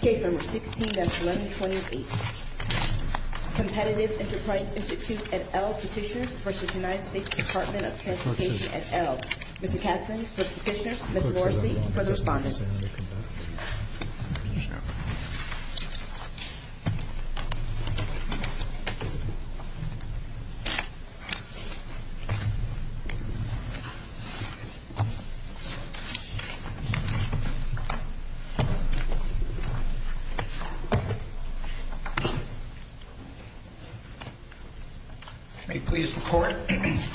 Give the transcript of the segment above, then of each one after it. Case No. 16-1128 Competitive Enterprise Institute, et al. Petitioners v. United States Department of Transportation, et al. Mr. Katzmann for the petitioners, Ms. Morrissey for the respondents. May it please the Court,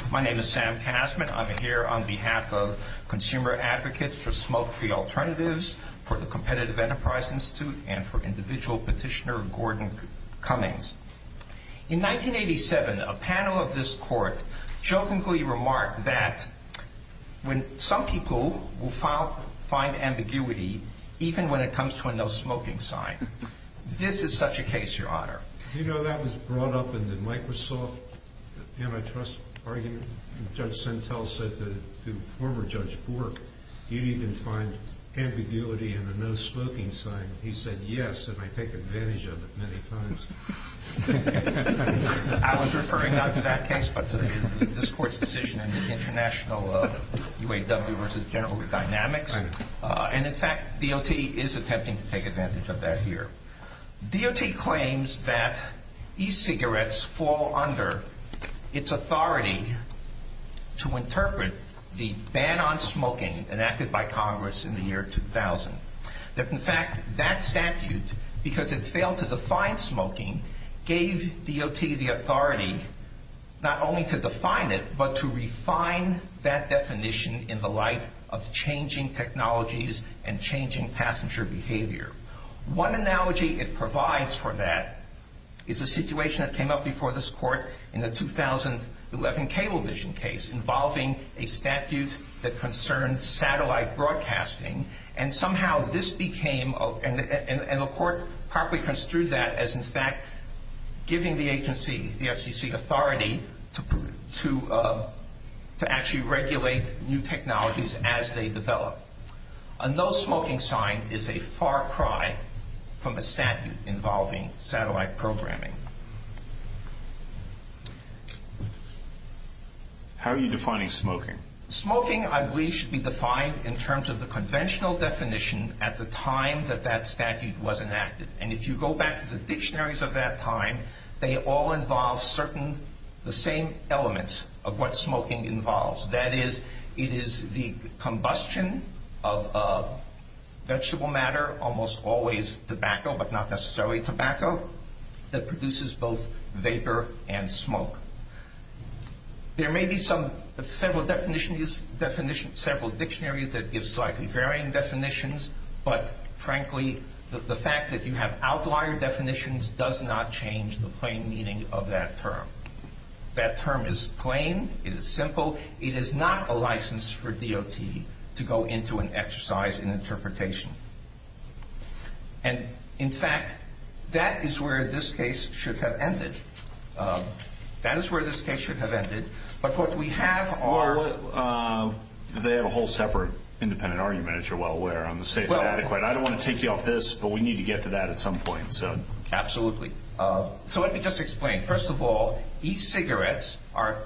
my name is Sam Katzmann. I'm here on behalf of Consumer Advocates for Smoke-Free Alternatives for the Competitive Enterprise Institute and for individual petitioner Gordon Cummings. In 1987, a panel of this Court jokingly remarked that when some people will find ambiguity, even when it comes to a no smoking sign, this is such a case, Your Honor. You know, that was brought up in the Microsoft antitrust argument. Judge Sentel said to former Judge Bork, you needn't find ambiguity in a no smoking sign. He said, yes, and I take advantage of it many times. I was referring not to that case, but to this Court's decision in the international UAW v. General Dynamics. And in fact, DOT is attempting to take advantage of that here. DOT claims that e-cigarettes fall under its authority to interpret the ban on smoking enacted by Congress in the year 2000. That in fact, that statute, because it failed to define smoking, gave DOT the authority not only to define it, but to refine that definition in the light of changing technologies and changing passenger behavior. One analogy it provides for that is a situation that came up before this Court in the 2011 Cablevision case involving a statute that concerned satellite broadcasting, and somehow this became, and the Court properly construed that as in fact giving the agency, the FCC, authority to actually regulate new technologies as they develop. A no smoking sign is a far cry from a statute involving satellite programming. How are you defining smoking? Smoking, I believe, should be defined in terms of the conventional definition at the time that that statute was enacted. And if you go back to the dictionaries of that time, they all involve certain, the same elements of what smoking involves. That is, it is the combustion of vegetable matter, almost always tobacco, but not necessarily tobacco, that produces both vapor and smoke. There may be some, several definitions, several dictionaries that give slightly varying definitions, but frankly, the fact that you have outlier definitions does not change the plain meaning of that term. That term is plain, it is simple, it is not a license for DOT to go into an exercise in interpretation. And in fact, that is where this case should have ended. That is where this case should have ended, but what we have are... They have a whole separate independent argument, as you're well aware, on the safe and adequate. I don't want to take you off this, but we need to get to that at some point. Absolutely. So let me just explain. First of all, e-cigarettes are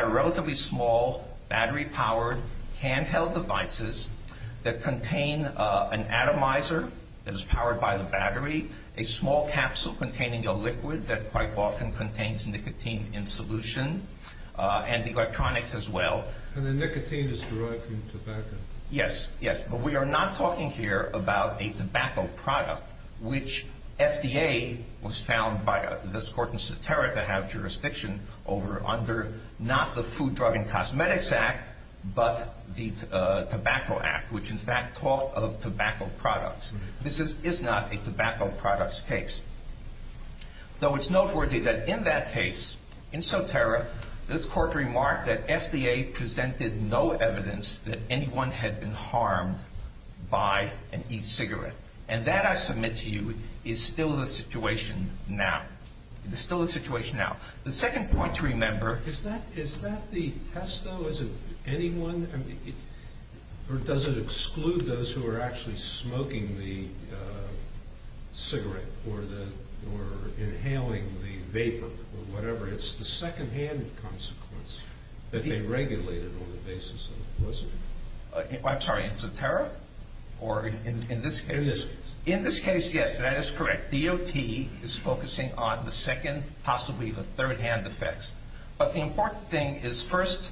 relatively small, battery-powered, handheld devices that contain an atomizer that is powered by the battery, a small capsule containing a liquid that quite often contains nicotine in solution, and electronics as well. And the nicotine is derived from tobacco. Yes, yes, but we are not talking here about a tobacco product, which FDA was found by this court in Soterra to have jurisdiction over under not the Food, Drug, and Cosmetics Act, but the Tobacco Act, which in fact taught of tobacco products. This is not a tobacco products case. Though it's noteworthy that in that case, in Soterra, this court remarked that FDA presented no evidence that anyone had been harmed by an e-cigarette. And that, I submit to you, is still the situation now. It is still the situation now. The second point to remember... Is that the test, though? Is it anyone? Or does it exclude those who are actually smoking the cigarette, or inhaling the vapor, or whatever? It's the secondhand consequence that they regulated on the basis of poison. I'm sorry, in Soterra? Or in this case? In this case. In this case, yes, that is correct. DOT is focusing on the second, possibly the thirdhand effects. But the important thing is first,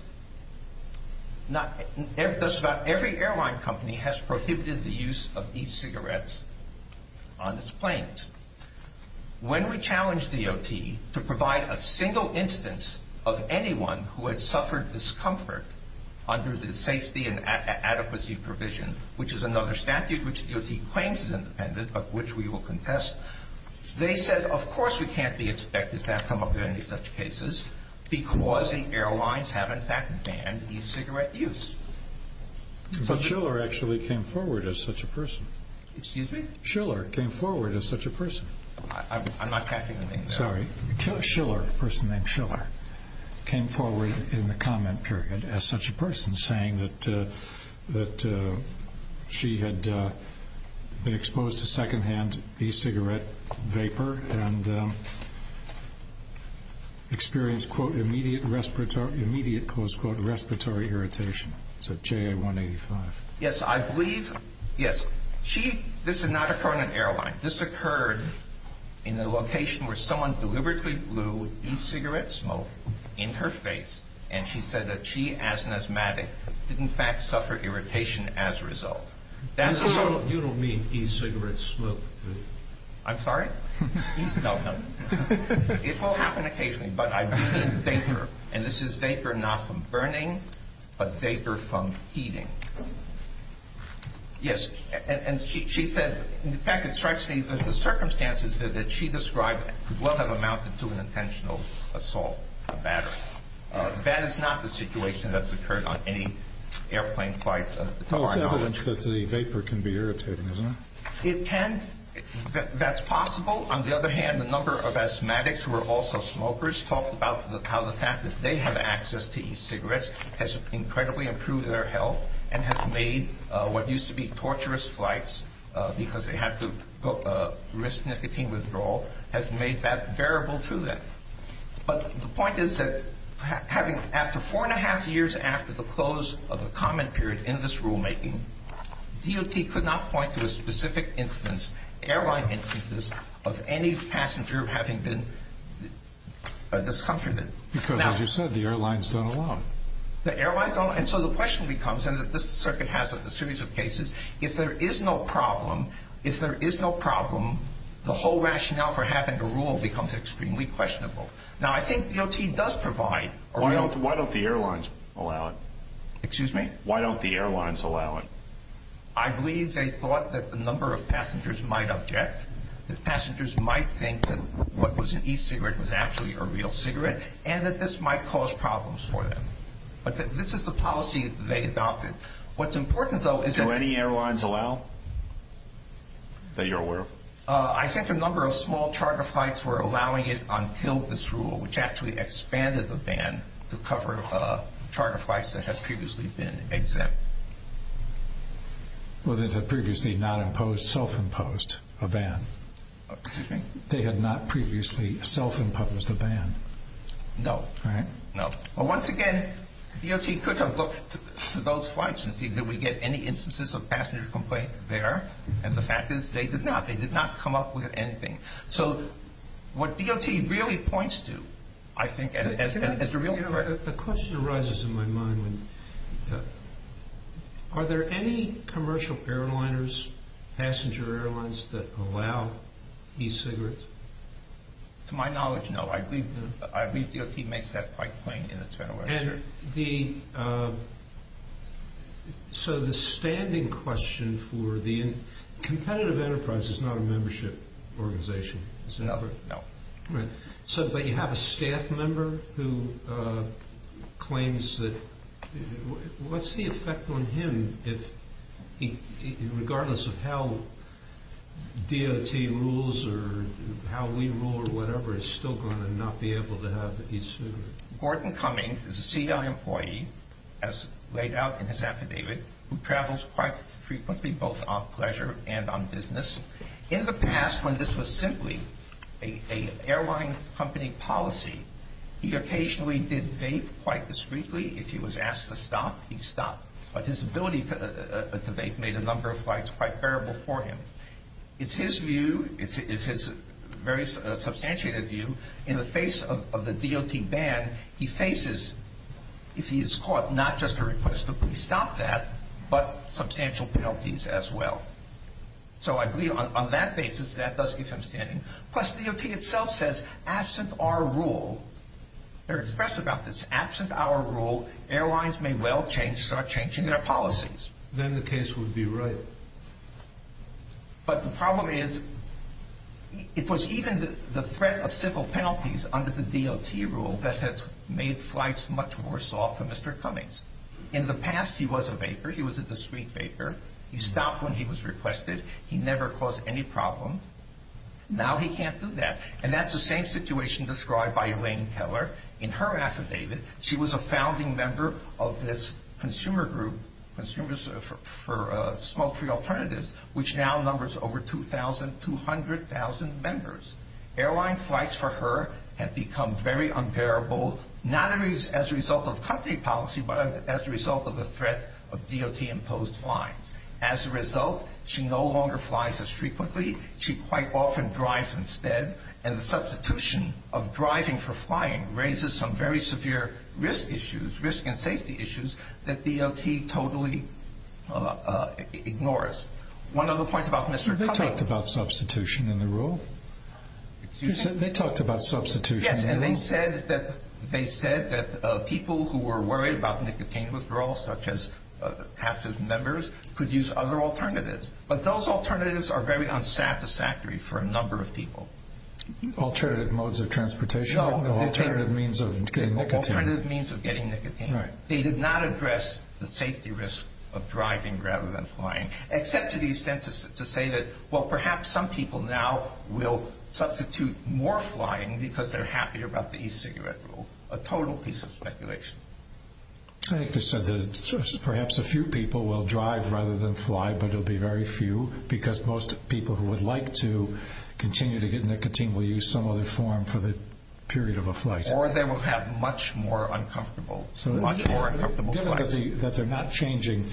every airline company has prohibited the use of e-cigarettes on its planes. When we challenged DOT to provide a single instance of anyone who had suffered discomfort under the Safety and Adequacy Provision, which is another statute which DOT claims is independent, but which we will contest, they said, of course we can't be expected to have come up with any such cases, because the airlines have in fact banned e-cigarette use. But Schiller actually came forward as such a person. Excuse me? Schiller came forward as such a person. I'm not catching the name. Sorry. Schiller, a person named Schiller, came forward in the comment period as such a person, saying that she had been exposed to secondhand e-cigarette vapor and experienced, quote, immediate respiratory irritation. It's at JA-185. Yes, I believe, yes. She, this did not occur on an airline. This occurred in a location where someone deliberately blew e-cigarette smoke in her face, and she said that she, as an asthmatic, did in fact suffer irritation as a result. You don't mean e-cigarette smoke. I'm sorry? No, no. It will happen occasionally, but I believe in vapor, and this is vapor not from burning, but vapor from heating. Yes, and she said, in fact, it strikes me that the circumstances that she described could well have amounted to an intentional assault. That is not the situation that's occurred on any airplane flight to our knowledge. Well, it's evidence that the vapor can be irritating, isn't it? It can. That's possible. On the other hand, the number of asthmatics who are also smokers talk about how the fact that they have access to e-cigarettes has incredibly improved their health and has made what used to be torturous flights, because they had to risk nicotine withdrawal, has made that bearable to them. But the point is that after four and a half years after the close of the comment period in this rulemaking, DOT could not point to a specific instance, airline instances, of any passenger having been discomforted. Because, as you said, the airlines don't allow it. The airlines don't, and so the question becomes, and this circuit has a series of cases, if there is no problem, if there is no problem, the whole rationale for having a rule becomes extremely questionable. Now, I think DOT does provide a real... Why don't the airlines allow it? Excuse me? Why don't the airlines allow it? I believe they thought that the number of passengers might object, that passengers might think that what was an e-cigarette was actually a real cigarette, and that this might cause problems for them. But this is the policy they adopted. What's important, though, is that... Do any airlines allow that you're aware of? I think a number of small charter flights were allowing it until this rule, which actually expanded the ban to cover charter flights that had previously been exempt. Well, they had previously not imposed, self-imposed a ban. Excuse me? They had not previously self-imposed a ban. No. Right? No. Well, once again, DOT could have looked to those flights and seen, did we get any instances of passenger complaints there? And the fact is, they did not. They did not come up with anything. So, what DOT really points to, I think, as the real... The question arises in my mind. Are there any commercial airliners, passenger airlines, that allow e-cigarettes? To my knowledge, no. I believe DOT makes that quite plain in its general literature. And the... So the standing question for the... Competitive Enterprise is not a membership organization, is it? No. Right. But you have a staff member who claims that... What's the effect on him, regardless of how DOT rules or how we rule or whatever, is still going to not be able to have e-cigarettes? Gordon Cummings is a CI employee, as laid out in his affidavit, who travels quite frequently, both on pleasure and on business. In the past, when this was simply an airline company policy, he occasionally did vape quite discreetly. If he was asked to stop, he'd stop. But his ability to vape made a number of flights quite bearable for him. It's his view, it's his very substantiated view, in the face of the DOT ban, he faces, if he is caught, not just a request to please stop that, but substantial penalties as well. So I believe on that basis, that does keep him standing. Plus, DOT itself says, absent our rule, they're expressed about this, absent our rule, airlines may well start changing their policies. Then the case would be right. But the problem is, it was even the threat of civil penalties under the DOT rule that has made flights much worse off for Mr. Cummings. In the past, he was a vaper. He was a discreet vaper. He stopped when he was requested. He never caused any problem. Now he can't do that. And that's the same situation described by Elaine Keller in her affidavit. She was a founding member of this consumer group, Consumers for Smoke-Free Alternatives, which now numbers over 2,000, 200,000 members. Airline flights for her have become very unbearable, not as a result of company policy, but as a result of the threat of DOT-imposed fines. As a result, she no longer flies as frequently. She quite often drives instead. And the substitution of driving for flying raises some very severe risk issues, risk and safety issues, that DOT totally ignores. One of the points about Mr. Cummings... They talked about substitution in the rule. Excuse me? They talked about substitution in the rule. Yes, and they said that people who were worried about nicotine withdrawal, such as passive members, could use other alternatives. But those alternatives are very unsatisfactory for a number of people. Alternative modes of transportation, alternative means of getting nicotine. Alternative means of getting nicotine. Right. And they did not address the safety risk of driving rather than flying, except to the extent to say that, well, perhaps some people now will substitute more flying because they're happier about the e-cigarette rule. A total piece of speculation. I think they said that perhaps a few people will drive rather than fly, but it will be very few, because most people who would like to continue to get nicotine will use some other form for the period of a flight. Or they will have much more uncomfortable flights. Given that they're not changing,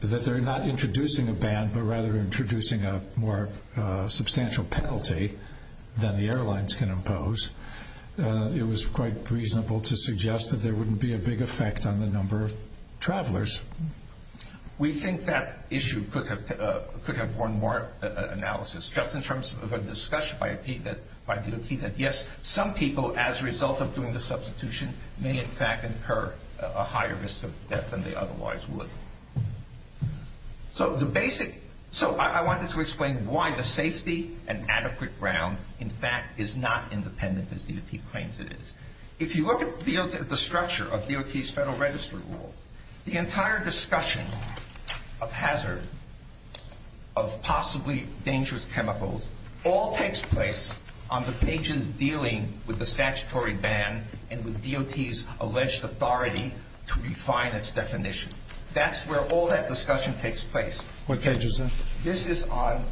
that they're not introducing a ban, but rather introducing a more substantial penalty than the airlines can impose, it was quite reasonable to suggest that there wouldn't be a big effect on the number of travelers. We think that issue could have borne more analysis, just in terms of a discussion by DOT that, yes, some people, as a result of doing the substitution, may in fact incur a higher risk of death than they otherwise would. So I wanted to explain why the safety and adequate ground, in fact, is not independent as DOT claims it is. If you look at the structure of DOT's Federal Registry Rule, the entire discussion of hazard, of possibly dangerous chemicals, all takes place on the pages dealing with the statutory ban and with DOT's alleged authority to refine its definition. That's where all that discussion takes place. What page is this? This is on,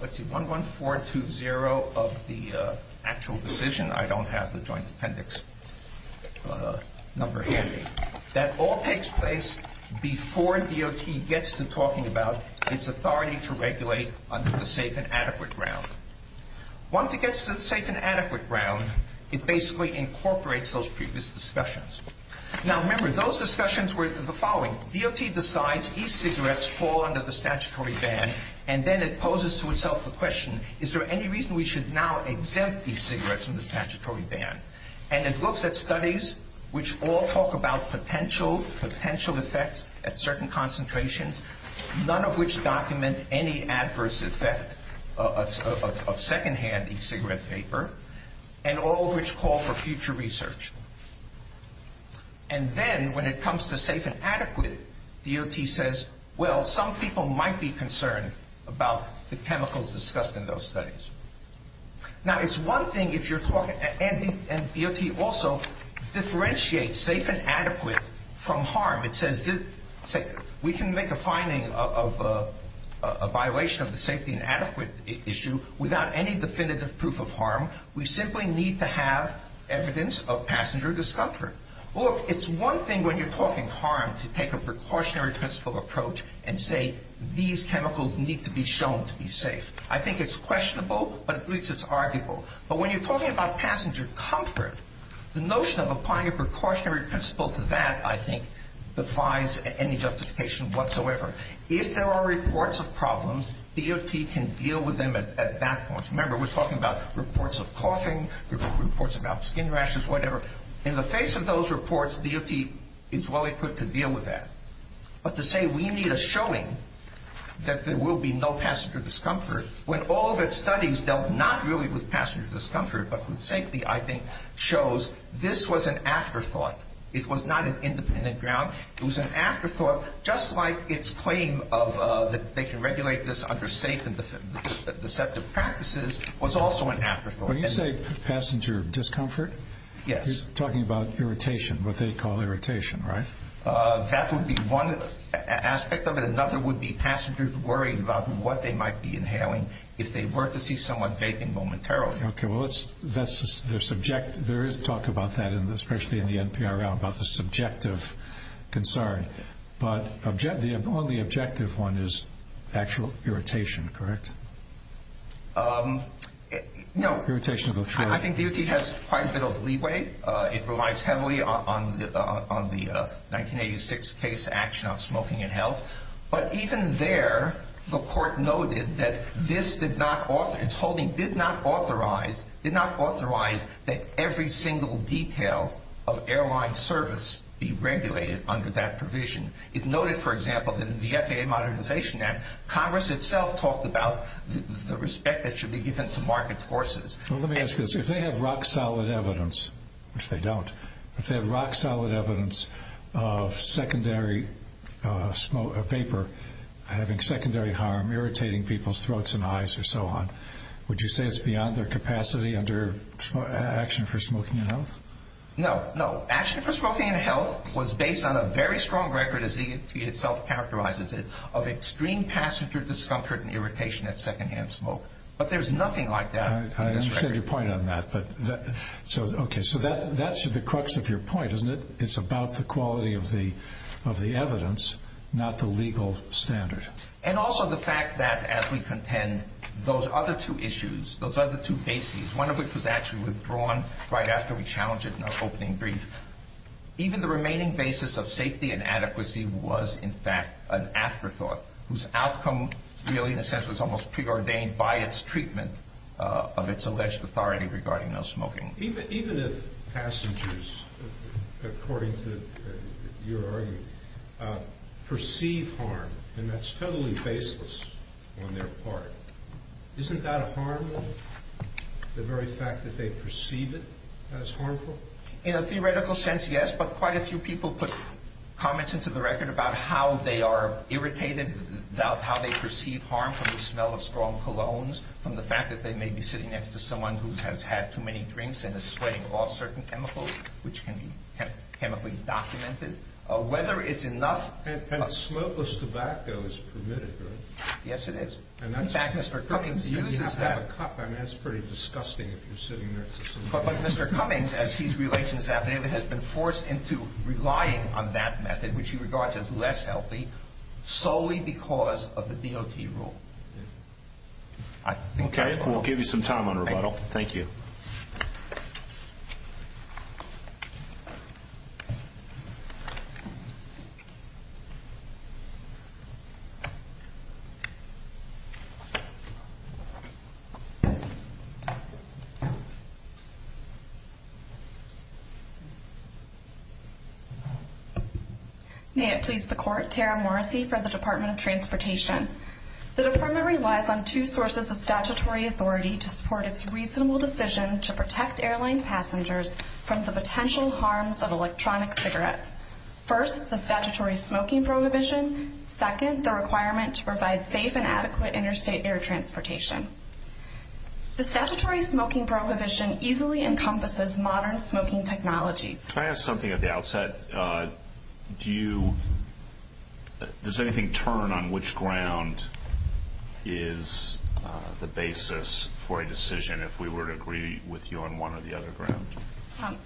let's see, 11420 of the actual decision. I don't have the joint appendix number handy. That all takes place before DOT gets to talking about its authority to regulate under the safe and adequate ground. Once it gets to the safe and adequate ground, it basically incorporates those previous discussions. Now, remember, those discussions were the following. DOT decides e-cigarettes fall under the statutory ban, and then it poses to itself the question, is there any reason we should now exempt e-cigarettes from the statutory ban? And it looks at studies which all talk about potential, potential effects at certain concentrations, none of which document any adverse effect of secondhand e-cigarette vapor, and all of which call for future research. And then when it comes to safe and adequate, DOT says, well, some people might be concerned about the chemicals discussed in those studies. Now, it's one thing if you're talking, and DOT also differentiates safe and adequate from harm. It says we can make a finding of a violation of the safety and adequate issue without any definitive proof of harm. We simply need to have evidence of passenger discomfort. Look, it's one thing when you're talking harm to take a precautionary principle approach and say these chemicals need to be shown to be safe. I think it's questionable, but at least it's arguable. But when you're talking about passenger comfort, the notion of applying a precautionary principle to that, I think, defies any justification whatsoever. If there are reports of problems, DOT can deal with them at that point. Remember, we're talking about reports of coughing, reports about skin rashes, whatever. In the face of those reports, DOT is well equipped to deal with that. But to say we need a showing that there will be no passenger discomfort when all of its studies dealt not really with passenger discomfort but with safety, I think, shows this was an afterthought. It was not an independent ground. It was an afterthought just like its claim that they can regulate this under safe and deceptive practices was also an afterthought. When you say passenger discomfort, you're talking about irritation, what they call irritation, right? That would be one aspect of it. Another would be passengers worrying about what they might be inhaling if they were to see someone vaping momentarily. Okay, well, there is talk about that, especially in the NPRL, about the subjective concern. But the only objective one is actual irritation, correct? No. Irritation of the throat. I think DOT has quite a bit of leeway. It relies heavily on the 1986 case action on smoking and health. But even there, the court noted that this did not authorize, its holding did not authorize, did not authorize that every single detail of airline service be regulated under that provision. It noted, for example, that in the FAA Modernization Act, Congress itself talked about the respect that should be given to market forces. Well, let me ask you this. If they have rock-solid evidence, which they don't, if they have rock-solid evidence of secondary vapor having secondary harm, irritating people's throats and eyes and so on, would you say it's beyond their capacity under action for smoking and health? No, no. Action for smoking and health was based on a very strong record, as EFT itself characterizes it, of extreme passenger discomfort and irritation at second-hand smoke. But there's nothing like that in this record. I understand your point on that. Okay, so that's the crux of your point, isn't it? It's about the quality of the evidence, not the legal standard. And also the fact that, as we contend, those other two issues, those other two bases, one of which was actually withdrawn right after we challenged it in our opening brief, even the remaining basis of safety and adequacy was, in fact, an afterthought, whose outcome really, in a sense, was almost preordained by its treatment of its alleged authority regarding no smoking. Even if passengers, according to your argument, perceive harm, and that's totally baseless on their part, isn't that a harm, the very fact that they perceive it as harmful? In a theoretical sense, yes, but quite a few people put comments into the record about how they are irritated, about how they perceive harm from the smell of strong colognes, from the fact that they may be sitting next to someone who has had too many drinks and is sweating off certain chemicals, which can be chemically documented. Whether it's enough... And smokeless tobacco is permitted, right? Yes, it is. In fact, Mr. Cummings uses that... And you have to have a cup. I mean, that's pretty disgusting if you're sitting next to someone... But Mr. Cummings, as he's related to this affidavit, has been forced into relying on that method, which he regards as less healthy, solely because of the DOT rule. Okay, we'll give you some time on rebuttal. Thank you. May it please the Court, Tara Morrissey for the Department of Transportation. The Department relies on two sources of statutory authority to support its reasonable decision to protect airline passengers from the potential harms of electronic cigarettes. First, the statutory smoking prohibition. The statutory smoking prohibition easily encompasses modern smoking technologies. Can I ask something at the outset? Do you... Does anything turn on which ground is the basis for a decision, if we were to agree with you on one or the other ground?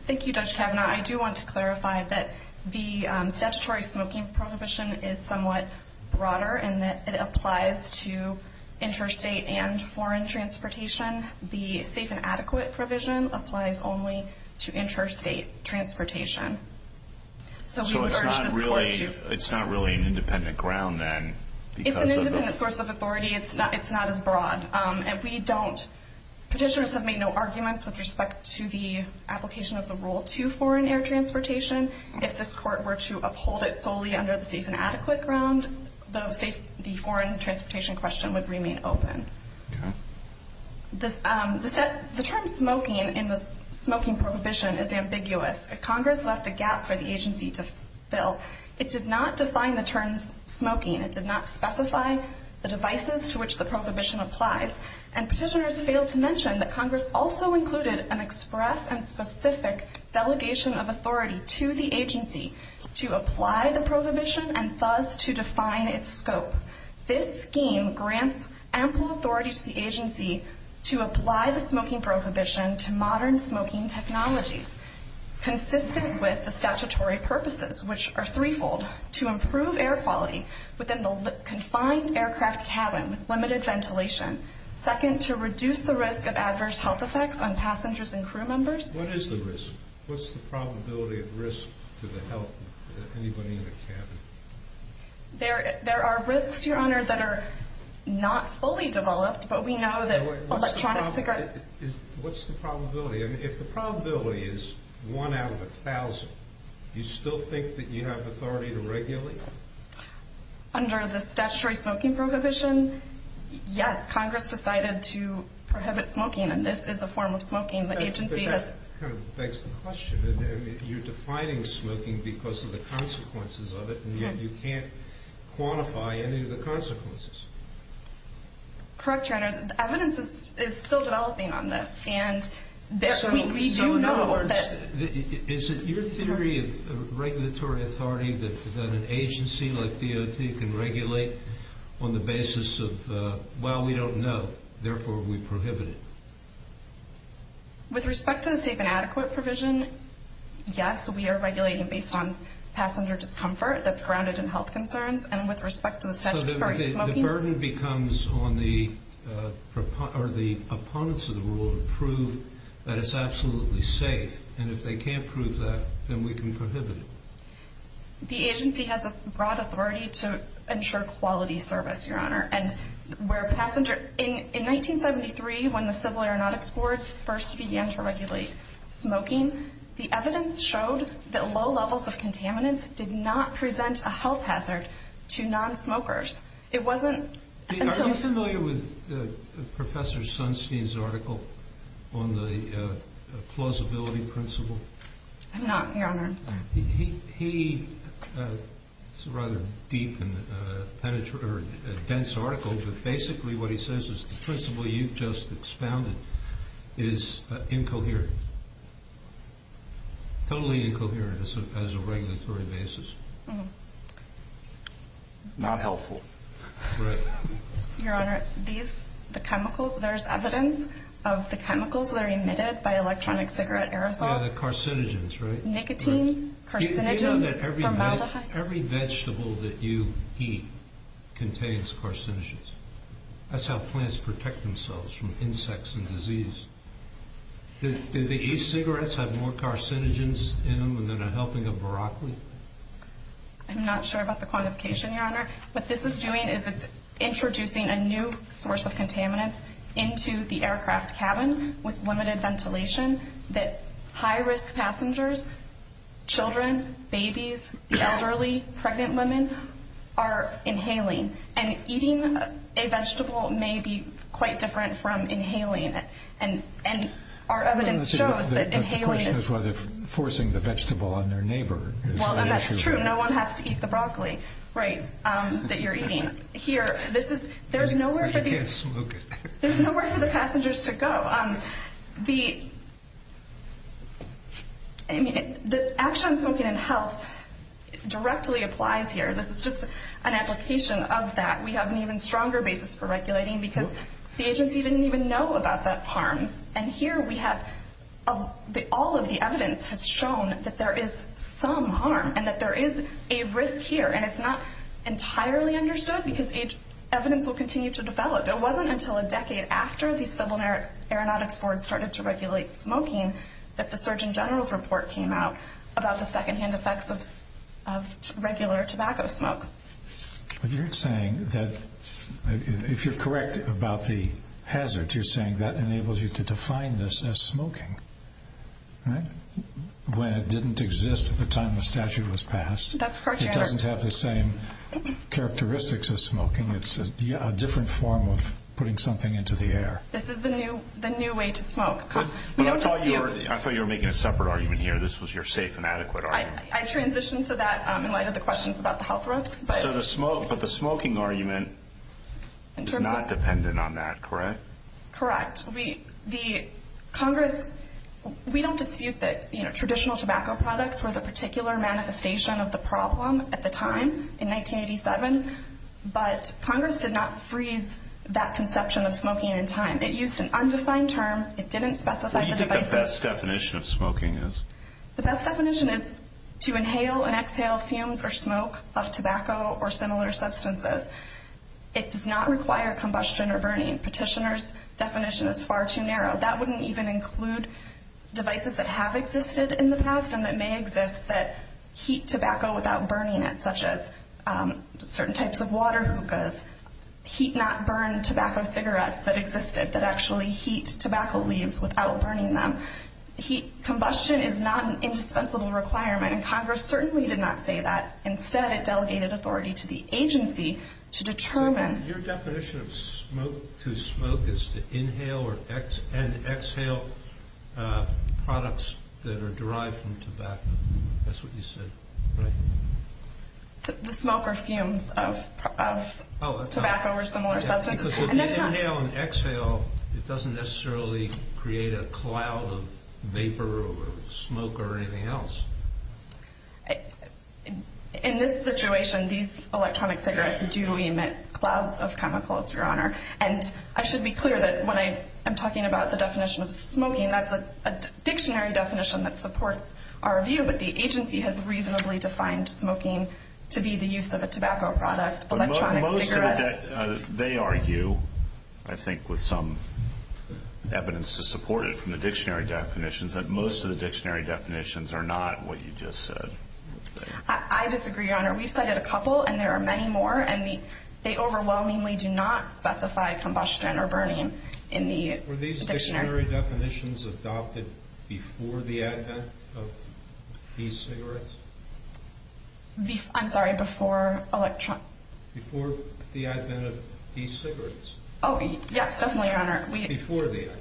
Thank you, Judge Kavanaugh. I do want to clarify that the statutory smoking prohibition is somewhat broader in that it applies to interstate and foreign transportation. The safe and adequate provision applies only to interstate transportation. So it's not really an independent ground, then? It's an independent source of authority. It's not as broad. And we don't... Petitioners have made no arguments with respect to the application of the Rule 2 foreign air transportation. If this Court were to uphold it solely under the safe and adequate ground, the foreign transportation question would remain open. Okay. The term smoking in the smoking prohibition is ambiguous. Congress left a gap for the agency to fill. It did not define the term smoking. It did not specify the devices to which the prohibition applies. And petitioners failed to mention that Congress also included an express and specific delegation of authority to the agency to apply the prohibition and thus to define its scope. This scheme grants ample authority to the agency to apply the smoking prohibition to modern smoking technologies consistent with the statutory purposes, which are threefold, to improve air quality within the confined aircraft cabin with limited ventilation, second, to reduce the risk of adverse health effects on passengers and crew members. What is the risk? What's the probability of risk to the health of anybody in the cabin? There are risks, Your Honor, that are not fully developed, but we know that electronic cigarettes... What's the probability? If the probability is one out of a thousand, do you still think that you have authority to regulate? Under the statutory smoking prohibition, yes, Congress decided to prohibit smoking, and this is a form of smoking the agency has... But that kind of begs the question. You're defining smoking because of the consequences of it, and yet you can't quantify any of the consequences. Correct, Your Honor. The evidence is still developing on this, and we do know that... So in other words, is it your theory of regulatory authority that an agency like DOT can regulate on the basis of, well, we don't know, therefore we prohibit it? With respect to the safe and adequate provision, yes, we are regulating based on passenger discomfort that's grounded in health concerns, and with respect to the statutory smoking... So the burden becomes on the opponents of the rule to prove that it's absolutely safe, and if they can't prove that, then we can prohibit it. In 1973, when the Civil Aeronautics Board first began to regulate smoking, the evidence showed that low levels of contaminants did not present a health hazard to nonsmokers. It wasn't until... Are you familiar with Professor Sunstein's article on the plausibility principle? I'm not, Your Honor. I'm sorry. He has a rather deep and dense article, but basically what he says is the principle you've just expounded is incoherent, totally incoherent as a regulatory basis. Not helpful. Your Honor, the chemicals, there's evidence of the chemicals that are emitted by electronic cigarette aerosols. Yeah, the carcinogens, right? Nicotine, carcinogens, formaldehyde. Every vegetable that you eat contains carcinogens. That's how plants protect themselves from insects and disease. Do the e-cigarettes have more carcinogens in them than a helping of broccoli? I'm not sure about the quantification, Your Honor. What this is doing is it's introducing a new source of contaminants into the aircraft cabin with limited ventilation that high-risk passengers, children, babies, the elderly, pregnant women, are inhaling. And eating a vegetable may be quite different from inhaling it. And our evidence shows that inhaling is... The question is whether forcing the vegetable on their neighbor is the issue. Well, that's true. No one has to eat the broccoli, right, that you're eating. Here, there's nowhere for these... You can't smoke it. There's nowhere for the passengers to go. The action on smoking and health directly applies here. This is just an application of that. We have an even stronger basis for regulating because the agency didn't even know about the harms. And here we have... All of the evidence has shown that there is some harm and that there is a risk here. And it's not entirely understood because evidence will continue to develop. It wasn't until a decade after the Civil Aeronautics Board started to regulate smoking that the Surgeon General's report came out about the second-hand effects of regular tobacco smoke. But you're saying that... If you're correct about the hazard, you're saying that enables you to define this as smoking, right, when it didn't exist at the time the statute was passed. That's correct, Your Honor. It doesn't have the same characteristics as smoking. It's a different form of putting something into the air. This is the new way to smoke. But I thought you were making a separate argument here. This was your safe and adequate argument. I transitioned to that in light of the questions about the health risks. But the smoking argument is not dependent on that, correct? Correct. The Congress... We don't dispute that traditional tobacco products were the particular manifestation of the problem at the time in 1987. But Congress did not freeze that conception of smoking in time. It used an undefined term. It didn't specify the devices. What do you think the best definition of smoking is? The best definition is to inhale and exhale fumes or smoke of tobacco or similar substances. It does not require combustion or burning. Petitioners' definition is far too narrow. That wouldn't even include devices that have existed in the past and that may exist that heat tobacco without burning it, such as certain types of water hookahs, heat not burned tobacco cigarettes that existed that actually heat tobacco leaves without burning them. Combustion is not an indispensable requirement, and Congress certainly did not say that. Instead, it delegated authority to the agency to determine... Your definition of smoke to smoke is to inhale and exhale products that are derived from tobacco. That's what you said. The smoke or fumes of tobacco or similar substances. If you inhale and exhale, it doesn't necessarily create a cloud of vapor or smoke or anything else. In this situation, these electronic cigarettes do emit clouds of chemicals, Your Honor. And I should be clear that when I am talking about the definition of smoking, that's a dictionary definition that supports our view, but the agency has reasonably defined smoking to be the use of a tobacco product, electronic cigarettes. They argue, I think, with some evidence to support it from the dictionary definitions, that most of the dictionary definitions are not what you just said. I disagree, Your Honor. We've cited a couple, and there are many more, and they overwhelmingly do not specify combustion or burning in the dictionary. Are the dictionary definitions adopted before the advent of e-cigarettes? I'm sorry, before electronic... Before the advent of e-cigarettes. Oh, yes, definitely, Your Honor. Before the advent.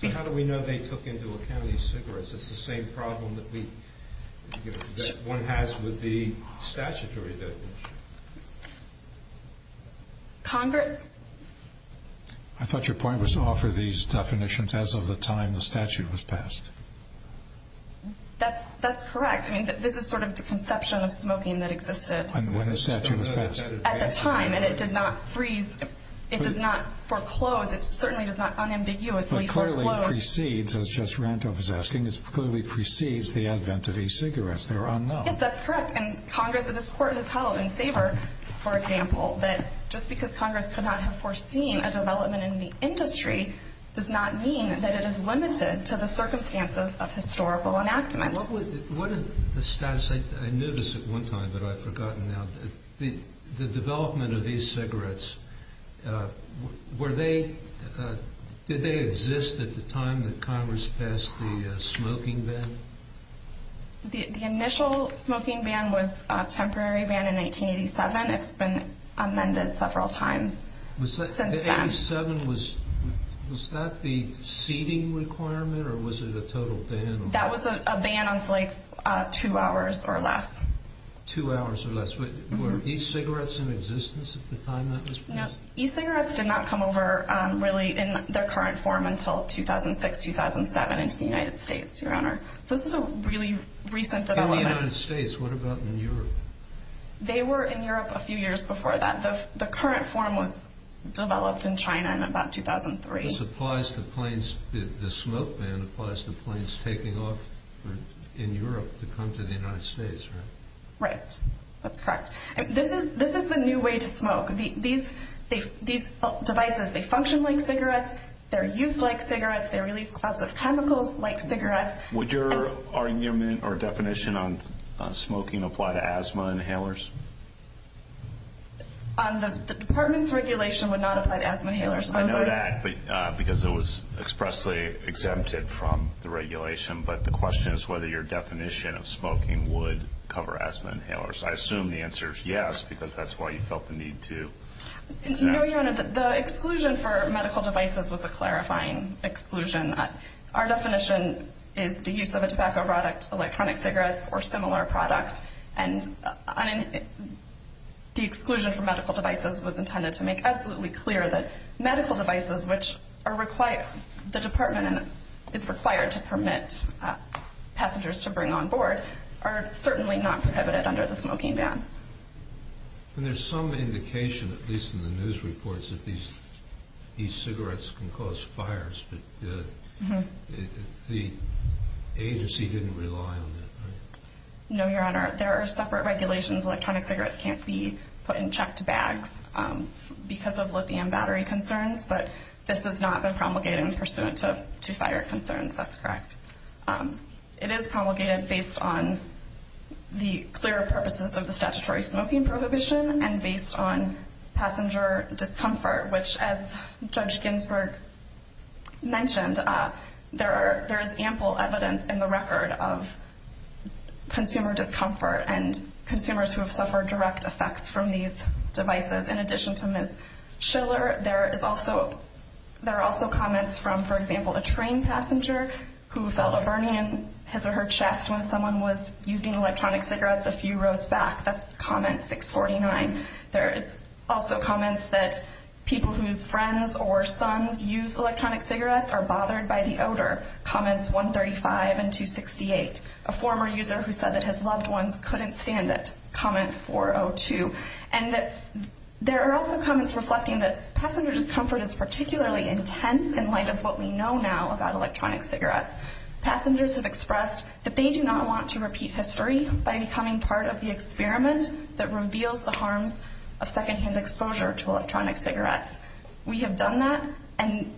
So how do we know they took into account e-cigarettes? It's the same problem that one has with the statutory definition. Congress... I thought your point was to offer these definitions as of the time the statute was passed. That's correct. I mean, this is sort of the conception of smoking that existed. When the statute was passed. At the time, and it did not freeze. It does not foreclose. It certainly does not unambiguously foreclose. But clearly it precedes, as Justice Randolph was asking, it clearly precedes the advent of e-cigarettes. They're unknown. Yes, that's correct. And Congress, and this Court has held in Sabre, for example, that just because Congress could not have foreseen a development in the industry does not mean that it is limited to the circumstances of historical enactment. What is the status? I knew this at one time, but I've forgotten now. The development of e-cigarettes, were they... Did they exist at the time that Congress passed the smoking ban? The initial smoking ban was a temporary ban in 1987. It's been amended several times since then. Was that the seating requirement, or was it a total ban? That was a ban on flights two hours or less. Two hours or less. Were e-cigarettes in existence at the time that was passed? No. E-cigarettes did not come over really in their current form until 2006, 2007 into the United States, Your Honor. So this is a really recent development. In the United States. What about in Europe? They were in Europe a few years before that. The current form was developed in China in about 2003. This applies to planes. The smoke ban applies to planes taking off in Europe to come to the United States, right? Right. That's correct. This is the new way to smoke. These devices, they function like cigarettes. They're used like cigarettes. They release clouds of chemicals like cigarettes. Would your argument or definition on smoking apply to asthma inhalers? The department's regulation would not apply to asthma inhalers. I know that because it was expressly exempted from the regulation. But the question is whether your definition of smoking would cover asthma inhalers. I assume the answer is yes because that's why you felt the need to. No, Your Honor, the exclusion for medical devices was a clarifying exclusion. Our definition is the use of a tobacco product, electronic cigarettes, or similar products. And the exclusion for medical devices was intended to make absolutely clear that medical devices which the department is required to permit passengers to bring on board are certainly not prohibited under the smoking ban. And there's some indication, at least in the news reports, that these cigarettes can cause fires. But the agency didn't rely on that, right? No, Your Honor. There are separate regulations. Electronic cigarettes can't be put in checked bags because of lithium battery concerns. But this has not been promulgated pursuant to fire concerns. That's correct. It is promulgated based on the clearer purposes of the statutory smoking prohibition and based on passenger discomfort, which, as Judge Ginsburg mentioned, there is ample evidence in the record of consumer discomfort and consumers who have suffered direct effects from these devices. In addition to Ms. Schiller, there are also comments from, for example, a train passenger who felt a burning in his or her chest when someone was using electronic cigarettes a few rows back. That's comment 649. There is also comments that people whose friends or sons use electronic cigarettes are bothered by the odor, comments 135 and 268. A former user who said that his loved ones couldn't stand it, comment 402. And there are also comments reflecting that passenger discomfort is particularly intense in light of what we know now about electronic cigarettes. Passengers have expressed that they do not want to repeat history by becoming part of the experiment that reveals the harms of secondhand exposure to electronic cigarettes. We have done that, and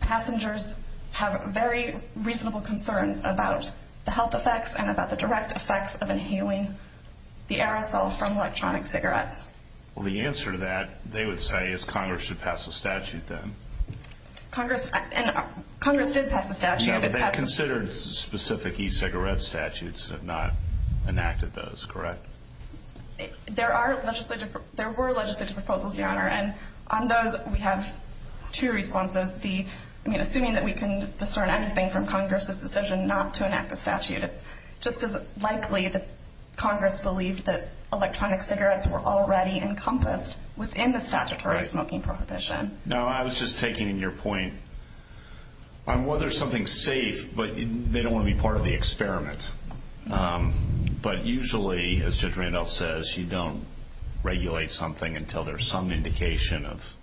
passengers have very reasonable concerns about the health effects and about the direct effects of inhaling the aerosol from electronic cigarettes. Well, the answer to that, they would say, is Congress should pass a statute then. Congress did pass a statute. Yeah, but they considered specific e-cigarette statutes and have not enacted those, correct? There were legislative proposals, Your Honor, and on those we have two responses. Assuming that we can discern anything from Congress's decision not to enact a statute, it's just as likely that Congress believed that electronic cigarettes were already encompassed within the statutory smoking prohibition. Now, I was just taking in your point on whether something's safe, but they don't want to be part of the experiment. But usually, as Judge Randolph says, you don't regulate something until there's some indication of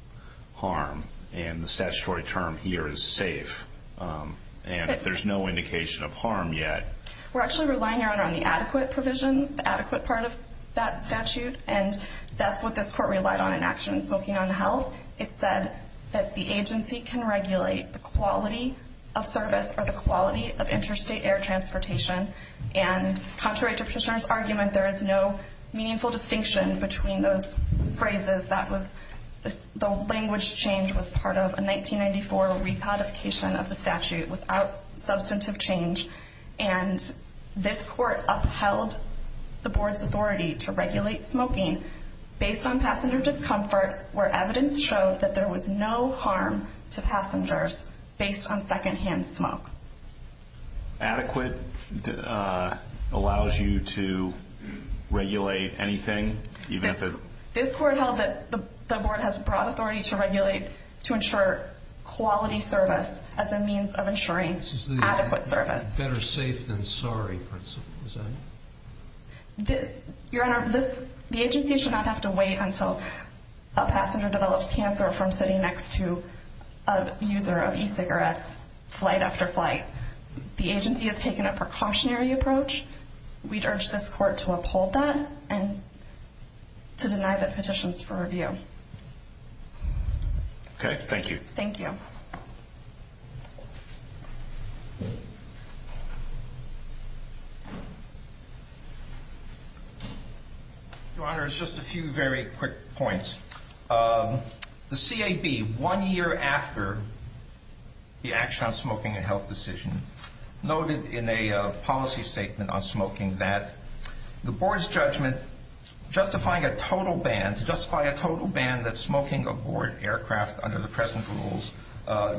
harm. And the statutory term here is safe. And if there's no indication of harm yet. We're actually relying, Your Honor, on the adequate provision, the adequate part of that statute, and that's what this court relied on in actions smoking on the health. It said that the agency can regulate the quality of service or the quality of interstate air transportation. And contrary to Petitioner's argument, there is no meaningful distinction between those phrases. The language change was part of a 1994 recodification of the statute without substantive change. And this court upheld the board's authority to regulate smoking based on passenger discomfort where evidence showed that there was no harm to passengers based on secondhand smoke. Adequate allows you to regulate anything? This court held that the board has broad authority to regulate, to ensure quality service as a means of ensuring adequate service. This is the better safe than sorry principle, is that it? Your Honor, the agency should not have to wait until a passenger develops cancer from sitting next to a user of e-cigarettes flight after flight. The agency has taken a precautionary approach. We'd urge this court to uphold that and to deny the petitions for review. Okay. Thank you. Thank you. Your Honor, just a few very quick points. The CAB, one year after the action on smoking and health decision, noted in a policy statement on smoking that the board's judgment justifying a total ban, to justify a total ban that smoking aboard aircraft under the present rules,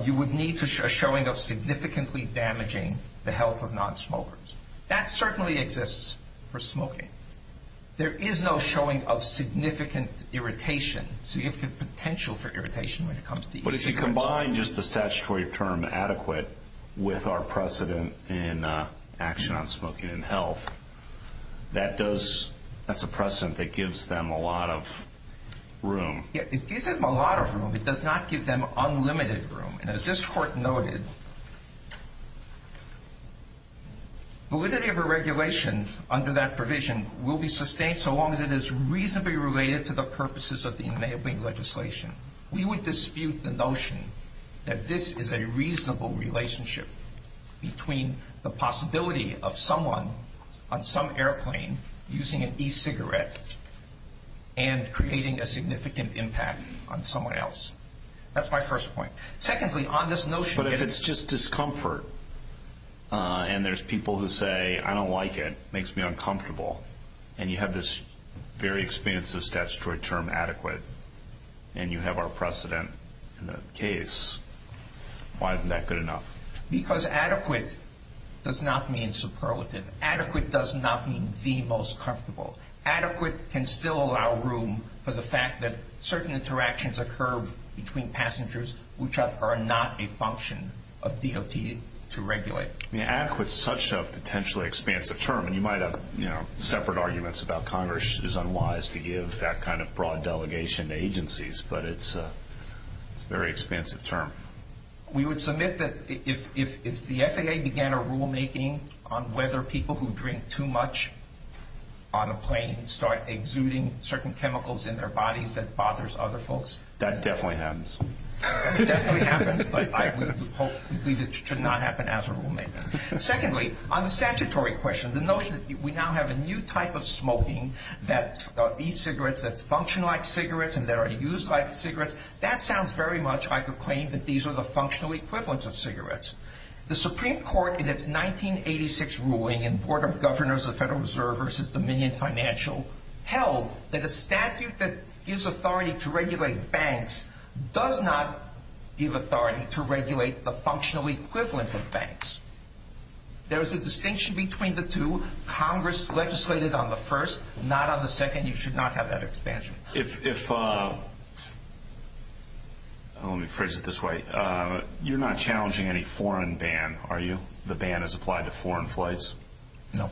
you would need a showing of significantly damaging the health of nonsmokers. That certainly exists for smoking. There is no showing of significant irritation, significant potential for irritation when it comes to e-cigarettes. But if you combine just the statutory term adequate with our precedent in action on smoking and health, that's a precedent that gives them a lot of room. It gives them a lot of room. It does not give them unlimited room. And as this court noted, validity of a regulation under that provision will be sustained so long as it is reasonably related to the purposes of the enabling legislation. We would dispute the notion that this is a reasonable relationship between the possibility of someone on some airplane using an e-cigarette and creating a significant impact on someone else. That's my first point. Secondly, on this notion of... But if it's just discomfort and there's people who say, I don't like it, it makes me uncomfortable, and you have this very expansive statutory term, adequate, and you have our precedent in the case, why isn't that good enough? Because adequate does not mean superlative. Adequate does not mean the most comfortable. Adequate can still allow room for the fact that certain interactions occur between passengers which are not a function of DOT to regulate. Adequate is such a potentially expansive term, and you might have separate arguments about Congress is unwise to give that kind of broad delegation to agencies, but it's a very expansive term. We would submit that if the FAA began a rulemaking on whether people who drink too much on a plane start exuding certain chemicals in their bodies that bothers other folks. That definitely happens. That definitely happens, but I would hope it should not happen as a rulemaker. Secondly, on the statutory question, the notion that we now have a new type of smoking, that e-cigarettes that function like cigarettes and that are used like cigarettes, that sounds very much like a claim that these are the functional equivalents of cigarettes. The Supreme Court in its 1986 ruling in the Board of Governors of the Federal Reserve versus Dominion Financial held that a statute that gives authority to regulate banks does not give authority to regulate the functional equivalent of banks. There is a distinction between the two. Congress legislated on the first, not on the second. You should not have that expansion. Let me phrase it this way. You're not challenging any foreign ban, are you? The ban is applied to foreign flights? No.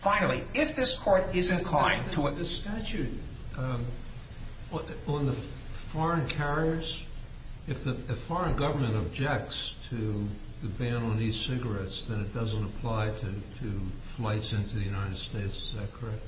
Finally, if this Court is inclined to what the statute on the foreign carriers, if the foreign government objects to the ban on e-cigarettes, then it doesn't apply to flights into the United States, is that correct?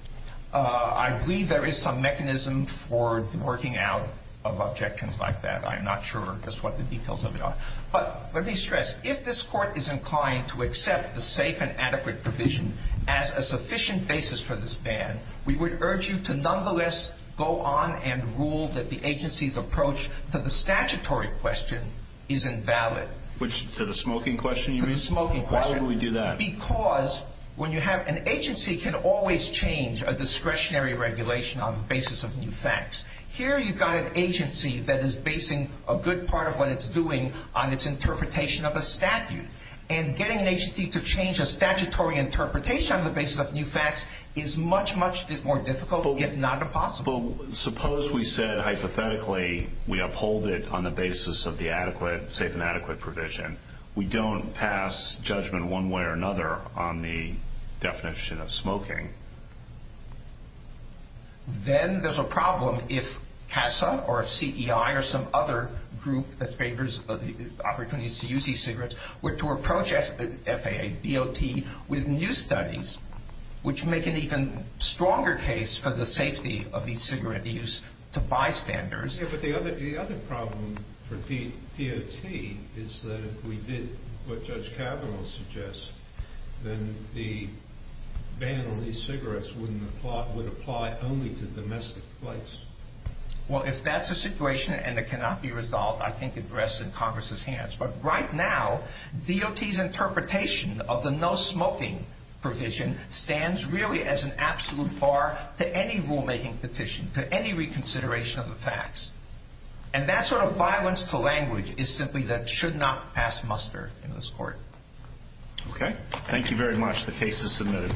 I believe there is some mechanism for working out of objections like that. I'm not sure just what the details of it are. But let me stress, if this Court is inclined to accept the safe and adequate provision as a sufficient basis for this ban, we would urge you to nonetheless go on and rule that the agency's approach to the statutory question is invalid. To the smoking question, you mean? To the smoking question. Why would we do that? Because when you have an agency can always change a discretionary regulation on the basis of new facts. Here you've got an agency that is basing a good part of what it's doing on its interpretation of a statute. And getting an agency to change a statutory interpretation on the basis of new facts is much, much more difficult, if not impossible. Suppose we said hypothetically we uphold it on the basis of the safe and adequate provision. We don't pass judgment one way or another on the definition of smoking. Then there's a problem if CASA or CEI or some other group that favors opportunities to use e-cigarettes were to approach FAA, DOT, with new studies, which make an even stronger case for the safety of e-cigarette use to bystanders. But the other problem for DOT is that if we did what Judge Kavanaugh suggests, then the ban on e-cigarettes would apply only to domestic flights. Well, if that's the situation and it cannot be resolved, I think it rests in Congress' hands. But right now, DOT's interpretation of the no smoking provision stands really as an absolute bar to any rulemaking petition, to any reconsideration of the facts. And that sort of violence to language is simply that it should not pass muster in this court. Okay. Thank you very much. The case is submitted.